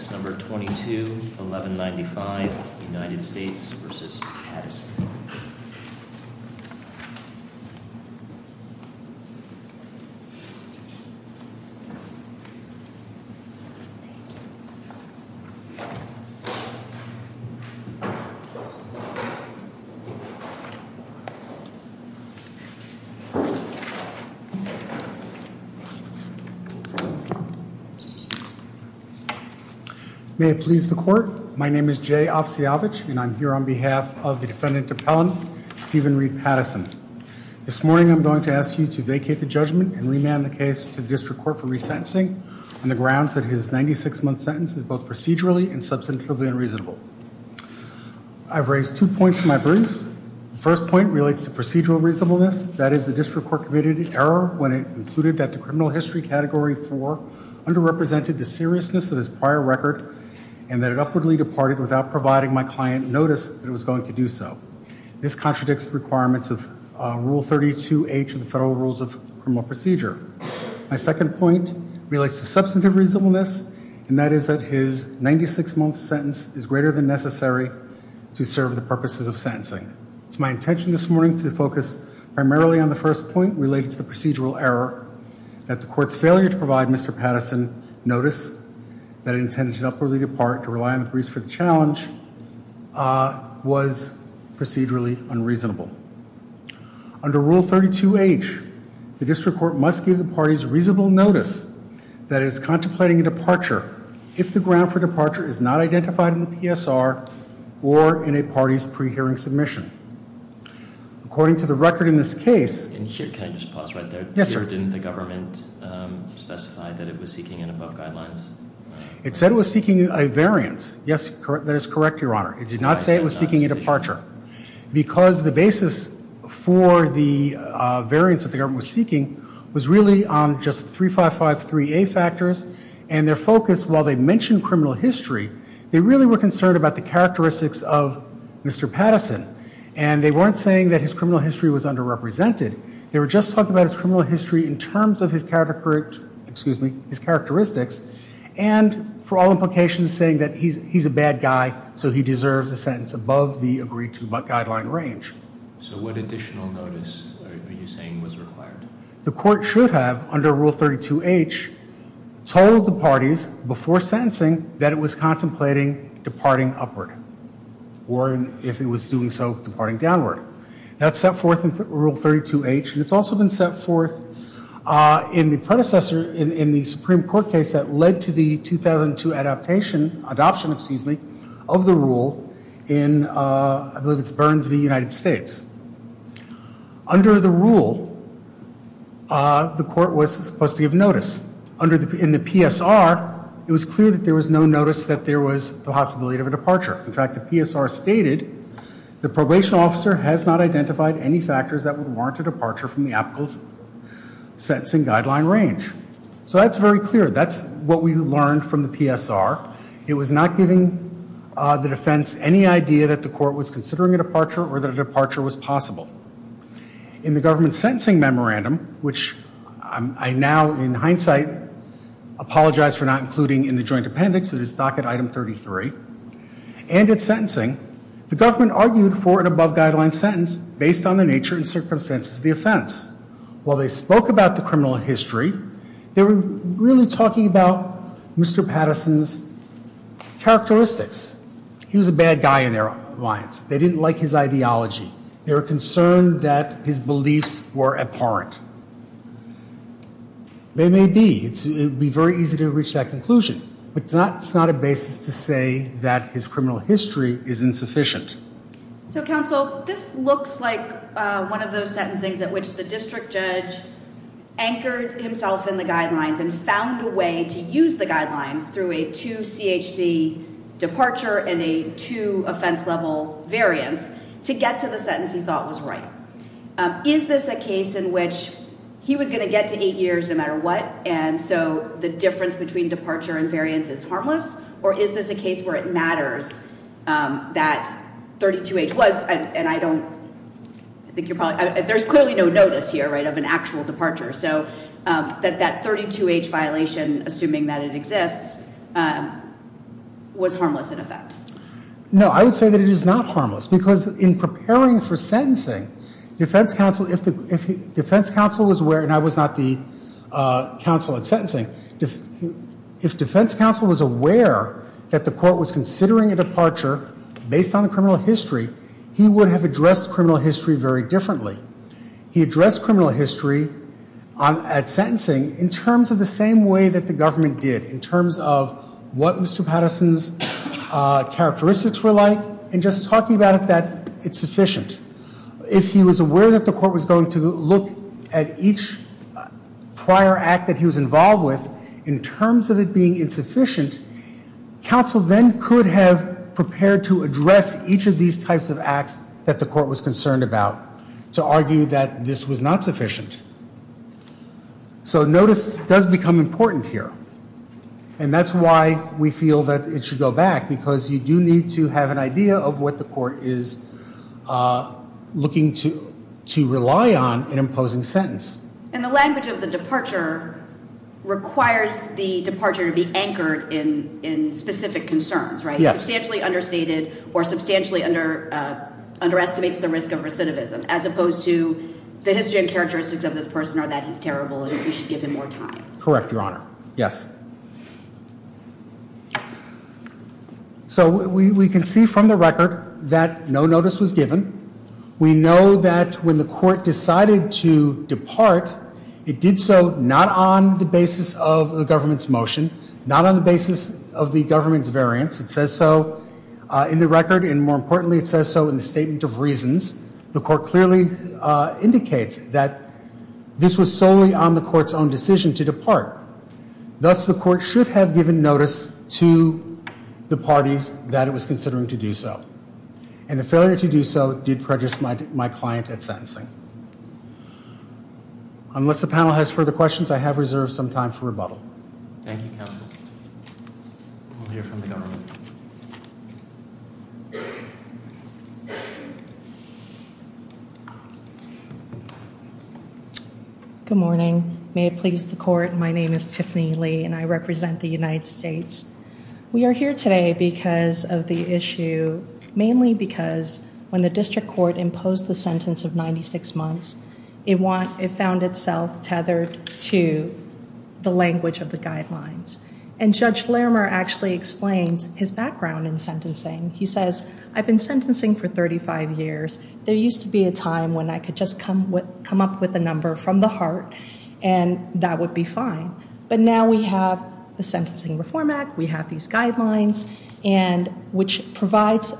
Case number 22-1195 United States v. Pattison May it please the court, my name is Jay Opsiowicz and I'm here on behalf of the defendant appellant Stephen Reed Pattison. This morning I'm going to ask you to vacate the judgment and remand the case to the district court for resentencing on the grounds that his 96-month sentence is both procedurally and substantively unreasonable. I've raised two points in my briefs. The first point relates to procedural reasonableness, that is the district court committed an error when it concluded that the criminal history category 4 underrepresented the seriousness of his prior record and that it upwardly departed without providing my client notice that it was going to do so. This contradicts the requirements of Rule 32H of the Federal Rules of Criminal Procedure. My second point relates to substantive reasonableness and that is that his 96-month sentence is greater than necessary to serve the purposes of sentencing. It's my intention this morning to focus primarily on the first point related to the procedural error that the court's failure to provide Mr. Pattison notice that it intended to upwardly depart to rely on the briefs for the challenge was procedurally unreasonable. Under Rule 32H, the district court must give the parties reasonable notice that it is contemplating a departure if the ground for departure is not identified in the PSR or in a party's pre-hearing submission. According to the record in this case... Can I just pause right there? Yes, sir. Didn't the government specify that it was seeking an above guidelines? It said it was seeking a variance. Yes, that is correct, Your Honor. It did not say it was seeking a departure because the basis for the variance that the government was seeking was really just 3553A factors and their focus, while they mentioned criminal history, they really were concerned about the characteristics of Mr. Pattison. And they weren't saying that his criminal history was underrepresented. They were just talking about his criminal history in terms of his characteristics and for all implications saying that he's a bad guy, so he deserves a sentence above the agreed to guideline range. So what additional notice are you saying was required? The court should have, under Rule 32H, told the parties before sentencing that it was contemplating departing upward or, if it was doing so, departing downward. That's set forth in Rule 32H, and it's also been set forth in the predecessor, in the Supreme Court case that led to the 2002 adoption of the rule in, I believe it's Burns v. United States. Under the rule, the court was supposed to give notice. In the PSR, it was clear that there was no notice that there was the possibility of a departure. In fact, the PSR stated the probation officer has not identified any factors that would warrant a departure from the applicable sentencing guideline range. So that's very clear. That's what we learned from the PSR. It was not giving the defense any idea that the court was considering a departure or that a departure was possible. In the government sentencing memorandum, which I now, in hindsight, apologize for not including in the joint appendix of the stock at Item 33, and at sentencing, the government argued for an above guideline sentence based on the nature and circumstances of the offense. While they spoke about the criminal history, they were really talking about Mr. Patterson's characteristics. He was a bad guy in their alliance. They didn't like his ideology. They were concerned that his beliefs were abhorrent. They may be. It would be very easy to reach that conclusion. But it's not a basis to say that his criminal history is insufficient. So, Counsel, this looks like one of those sentencings at which the district judge anchored himself in the guidelines and found a way to use the guidelines through a 2CHC departure and a 2 offense level variance to get to the sentence he thought was right. Is this a case in which he was going to get to 8 years no matter what, and so the difference between departure and variance is harmless, or is this a case where it matters that 32H was, and I don't think you're probably, there's clearly no notice here of an actual departure, so that that 32H violation, assuming that it exists, was harmless in effect? No, I would say that it is not harmless because in preparing for sentencing, defense counsel, if defense counsel was aware, and I was not the counsel at sentencing, if defense counsel was aware that the court was considering a departure based on the criminal history, he would have addressed criminal history very differently. He addressed criminal history at sentencing in terms of the same way that the government did, in terms of what Mr. Patterson's characteristics were like, and just talking about it that it's sufficient. If he was aware that the court was going to look at each prior act that he was involved with in terms of it being insufficient, counsel then could have prepared to address each of these types of acts that the court was concerned about to argue that this was not sufficient. So notice does become important here, and that's why we feel that it should go back because you do need to have an idea of what the court is looking to rely on in imposing sentence. And the language of the departure requires the departure to be anchored in specific concerns, right? Yes. Substantially understated or substantially underestimates the risk of recidivism as opposed to the history and characteristics of this person are that he's terrible and we should give him more time. Correct, Your Honor. Yes. So we can see from the record that no notice was given. We know that when the court decided to depart, it did so not on the basis of the government's motion, not on the basis of the government's variance. It says so in the record, and more importantly it says so in the statement of reasons. The court clearly indicates that this was solely on the court's own decision to depart. Thus, the court should have given notice to the parties that it was considering to do so. And the failure to do so did prejudice my client at sentencing. Unless the panel has further questions, I have reserved some time for rebuttal. Thank you, counsel. We'll hear from the government. Good morning. May it please the court, my name is Tiffany Lee and I represent the United States. We are here today because of the issue, mainly because when the district court imposed the sentence of 96 months, it found itself tethered to the language of the guidelines. And Judge Larimer actually explains his background in sentencing. He says, I've been sentencing for 35 years. There used to be a time when I could just come up with a number from the heart and that would be fine. But now we have the Sentencing Reform Act, we have these guidelines, which provides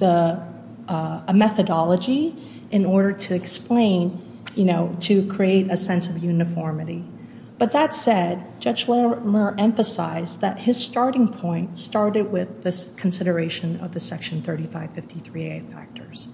a methodology in order to explain, to create a sense of uniformity. But that said, Judge Larimer emphasized that his starting point started with this consideration of the Section 3553A factors.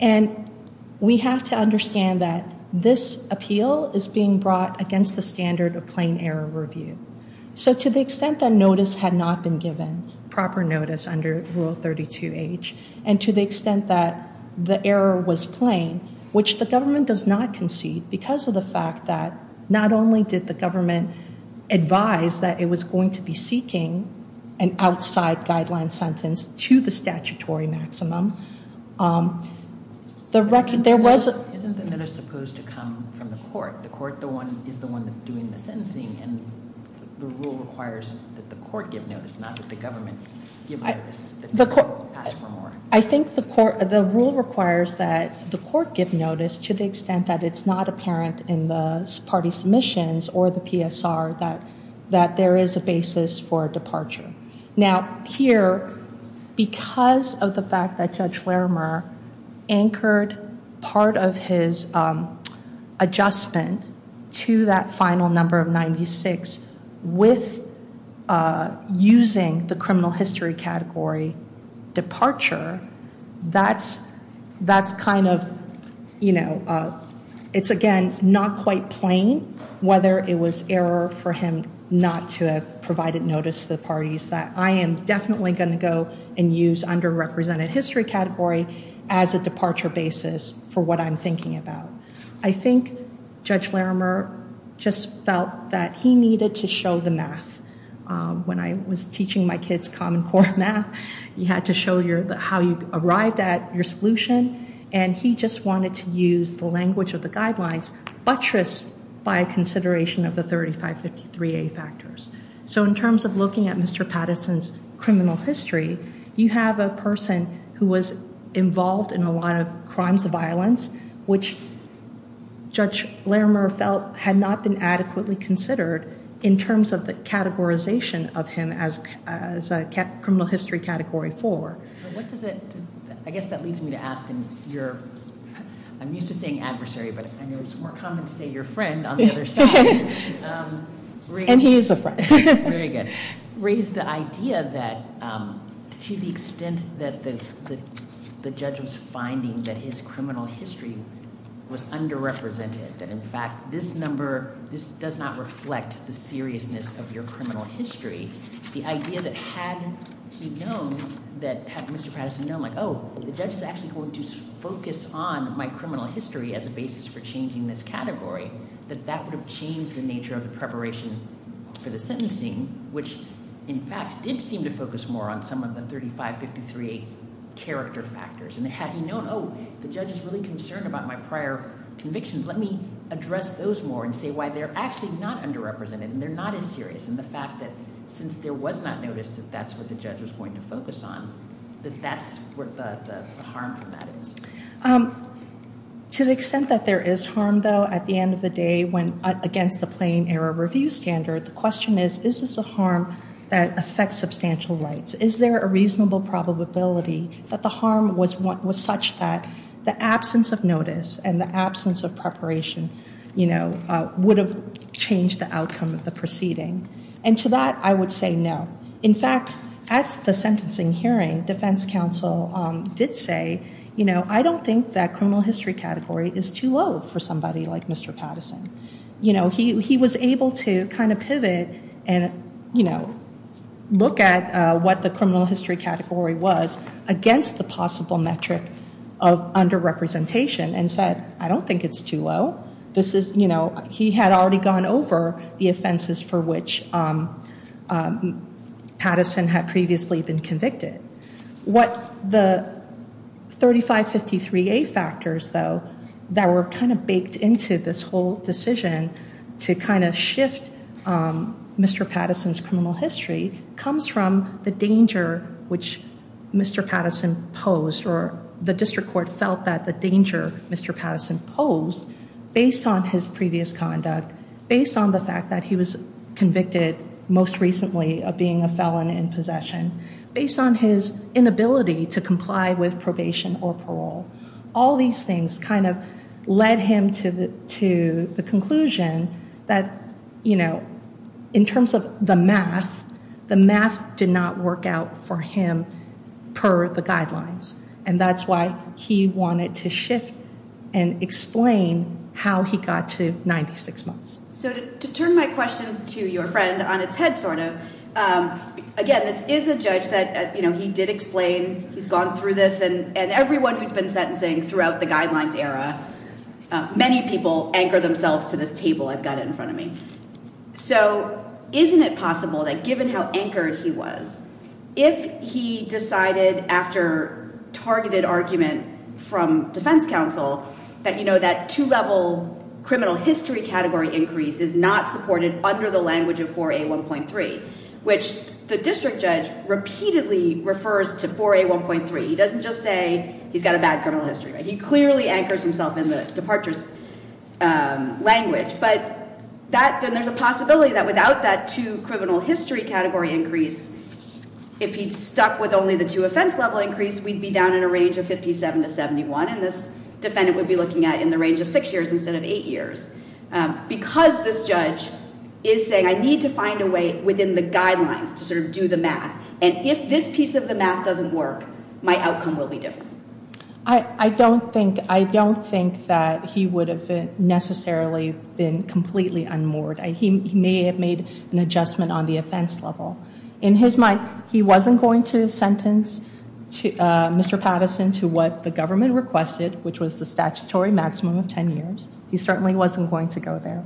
And we have to understand that this appeal is being brought against the standard of plain error review. So to the extent that notice had not been given, proper notice under Rule 32H, and to the extent that the error was plain, which the government does not concede because of the fact that not only did the government advise that it was going to be seeking an outside guideline sentence to the statutory maximum. Isn't the notice supposed to come from the court? The court is the one doing the sentencing, and the rule requires that the court give notice, not that the government give notice. The court will ask for more. I think the rule requires that the court give notice to the extent that it's not apparent in the party submissions or the PSR that there is a basis for departure. Now here, because of the fact that Judge Larimer anchored part of his adjustment to that final number of 96 with using the criminal history category departure, that's kind of, you know, it's, again, not quite plain, whether it was error for him not to have provided notice to the parties that I am definitely going to go and use underrepresented history category as a I think Judge Larimer just felt that he needed to show the math. When I was teaching my kids common core math, you had to show how you arrived at your solution, and he just wanted to use the language of the guidelines buttressed by consideration of the 3553A factors. So in terms of looking at Mr. Patterson's criminal history, you have a person who was involved in a lot of crimes of violence, which Judge Larimer felt had not been adequately considered in terms of the categorization of him as criminal history category four. I guess that leads me to ask, I'm used to saying adversary, but I know it's more common to say your friend on the other side. And he is a friend. Very good. Raised the idea that to the extent that the judge was finding that his criminal history was underrepresented, that, in fact, this number, this does not reflect the seriousness of your criminal history. The idea that had he known that, had Mr. Patterson known, like, oh, the judge is actually going to focus on my criminal history as a basis for changing this category, that that would have changed the nature of the preparation for the sentencing, which, in fact, did seem to focus more on some of the 3553A character factors. And had he known, oh, the judge is really concerned about my prior convictions, let me address those more and say why they're actually not underrepresented and they're not as serious. And the fact that since there was not notice that that's what the judge was going to focus on, that that's what the harm from that is. To the extent that there is harm, though, at the end of the day, when against the plain error review standard, the question is, is this a harm that affects substantial rights? Is there a reasonable probability that the harm was such that the absence of notice and the absence of preparation, you know, would have changed the outcome of the proceeding? And to that, I would say no. In fact, at the sentencing hearing, defense counsel did say, you know, I don't think that criminal history category is too low for somebody like Mr. Patterson. You know, he was able to kind of pivot and, you know, look at what the criminal history category was against the possible metric of underrepresentation and said, I don't think it's too low. This is, you know, he had already gone over the offenses for which Patterson had previously been convicted. What the 3553A factors, though, that were kind of baked into this whole decision to kind of shift Mr. Patterson's criminal history comes from the danger which Mr. Patterson posed or the district court felt that the danger Mr. Patterson posed based on his previous conduct, based on the fact that he was convicted most recently of being a felon in his inability to comply with probation or parole. All these things kind of led him to the conclusion that, you know, in terms of the math, the math did not work out for him per the guidelines. And that's why he wanted to shift and explain how he got to 96 months. So to turn my question to your friend on its head sort of, again, this is a judge that he did explain he's gone through this and everyone who's been sentencing throughout the guidelines era, many people anchor themselves to this table I've got in front of me. So isn't it possible that given how anchored he was, if he decided after targeted argument from defense counsel that, you know, that two level criminal history category increase is not supported under the repeatedly refers to 4A1.3. He doesn't just say he's got a bad criminal history, right? He clearly anchors himself in the departures language, but that there's a possibility that without that two criminal history category increase, if he'd stuck with only the two offense level increase, we'd be down in a range of 57 to 71. And this defendant would be looking at in the range of six years instead of eight years because this judge is saying, I need to find a way within the guidelines to sort of do the math. And if this piece of the math doesn't work, my outcome will be different. I don't think, I don't think that he would have necessarily been completely unmoored. He may have made an adjustment on the offense level in his mind. He wasn't going to sentence Mr. Patterson to what the government requested, which was the statutory maximum of 10 years. He certainly wasn't going to go there,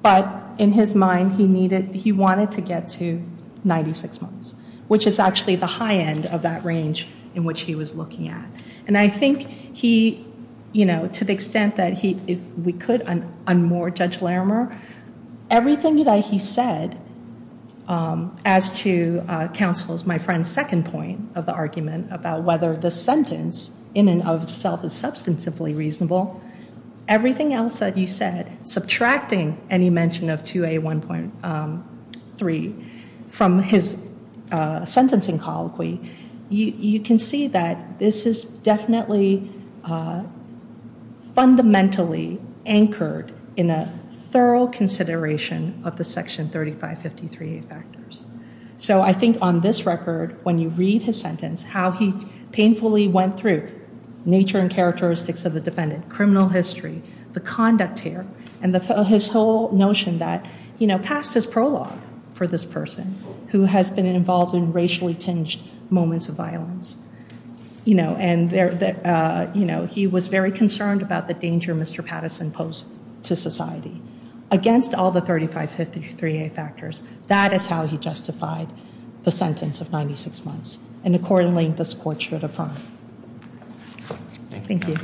but in his mind, he needed, he wanted to get to 96 months, which is actually the high end of that range in which he was looking at. And I think he, you know, to the extent that he, if we could, unmoor Judge Larimer, everything that he said, as to counsel's, my friend's second point of the argument about whether the sentence in and of itself is substantively reasonable, everything else that you said, subtracting any mention of two a 1.3 from his sentencing colloquy, you can see that this is definitely fundamentally anchored in a thorough consideration of the section 3553 factors. So I think on this record, when you read his sentence, how he painfully went through nature and characteristics of the defendant, criminal history, the conduct here, and the, his whole notion that, you know, past his prologue for this person who has been involved in racially tinged moments of violence, you know, and there, you know, he was very concerned about the danger Mr. Patterson posed to society against all the 3553 factors. That is how he justified the sentence of 96 months. And accordingly, this court should affirm. Thank you.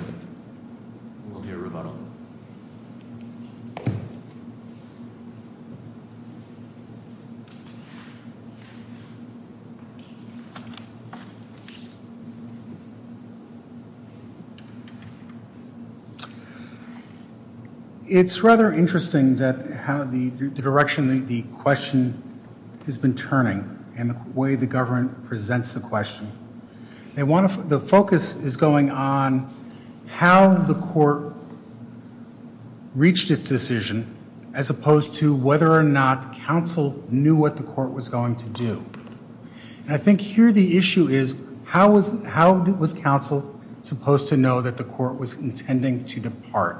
We'll hear a rebuttal. It's rather interesting that how the direction, the question has been turning and the way the government presents the question they want to, the focus is going on how the court reached its decision as opposed to whether or not council knew what the court was going to do. And I think here the issue is how was, how was council supposed to know that the court was intending to depart?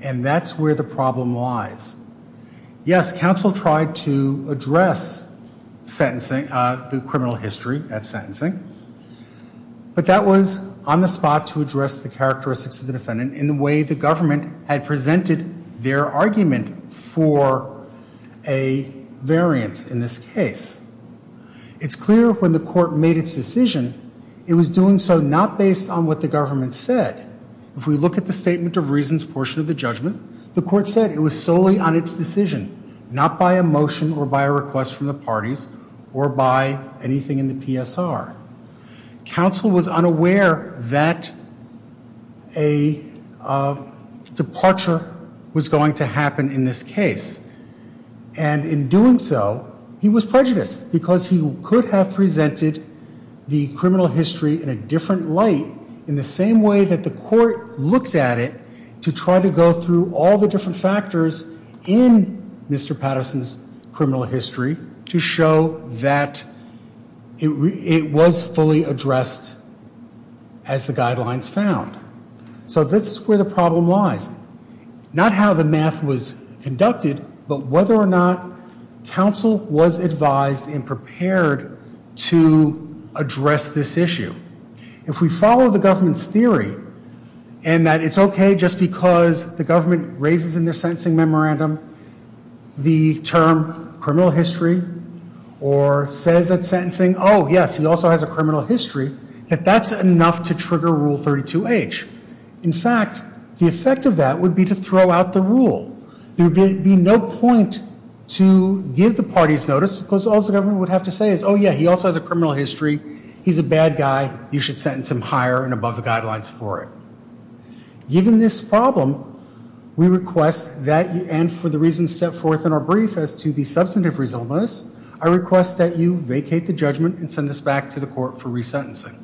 And that's where the problem lies. Yes. Council tried to address sentencing, the criminal history at sentencing, but that was on the spot to address the characteristics of the defendant in the way the government had presented their argument for a variance in this case. It's clear when the court made its decision, it was doing so not based on what the government said. If we look at the statement of reasons portion of the judgment, the court said it was solely on its decision, not by emotion or by a request from the parties or by anything in the PSR council was unaware that a departure was going to happen in this case. And in doing so he was prejudiced because he could have presented the criminal history in a different light in the same way that the court looked at it to try to go through all the different factors in Mr. Patterson's criminal history to show that it was fully addressed as the guidelines found. So this is where the problem lies, not how the math was conducted, but whether or not council was advised and prepared to address this issue. If we follow the government's theory and that it's okay just because the government raises in their sentencing memorandum the term criminal history or says that sentencing, oh yes, he also has a criminal history that that's enough to trigger rule 32 H. In fact, the effect of that would be to throw out the rule. There'd be no point to give the parties notice because all the government would have to say is, oh yeah, he also has a criminal history. He's a bad guy. You should sentence him higher and above the guidelines for it. Given this problem, we request that and for the reasons set forth in our brief as to the substantive reasonableness, I request that you vacate the judgment and send this back to the court for resentencing.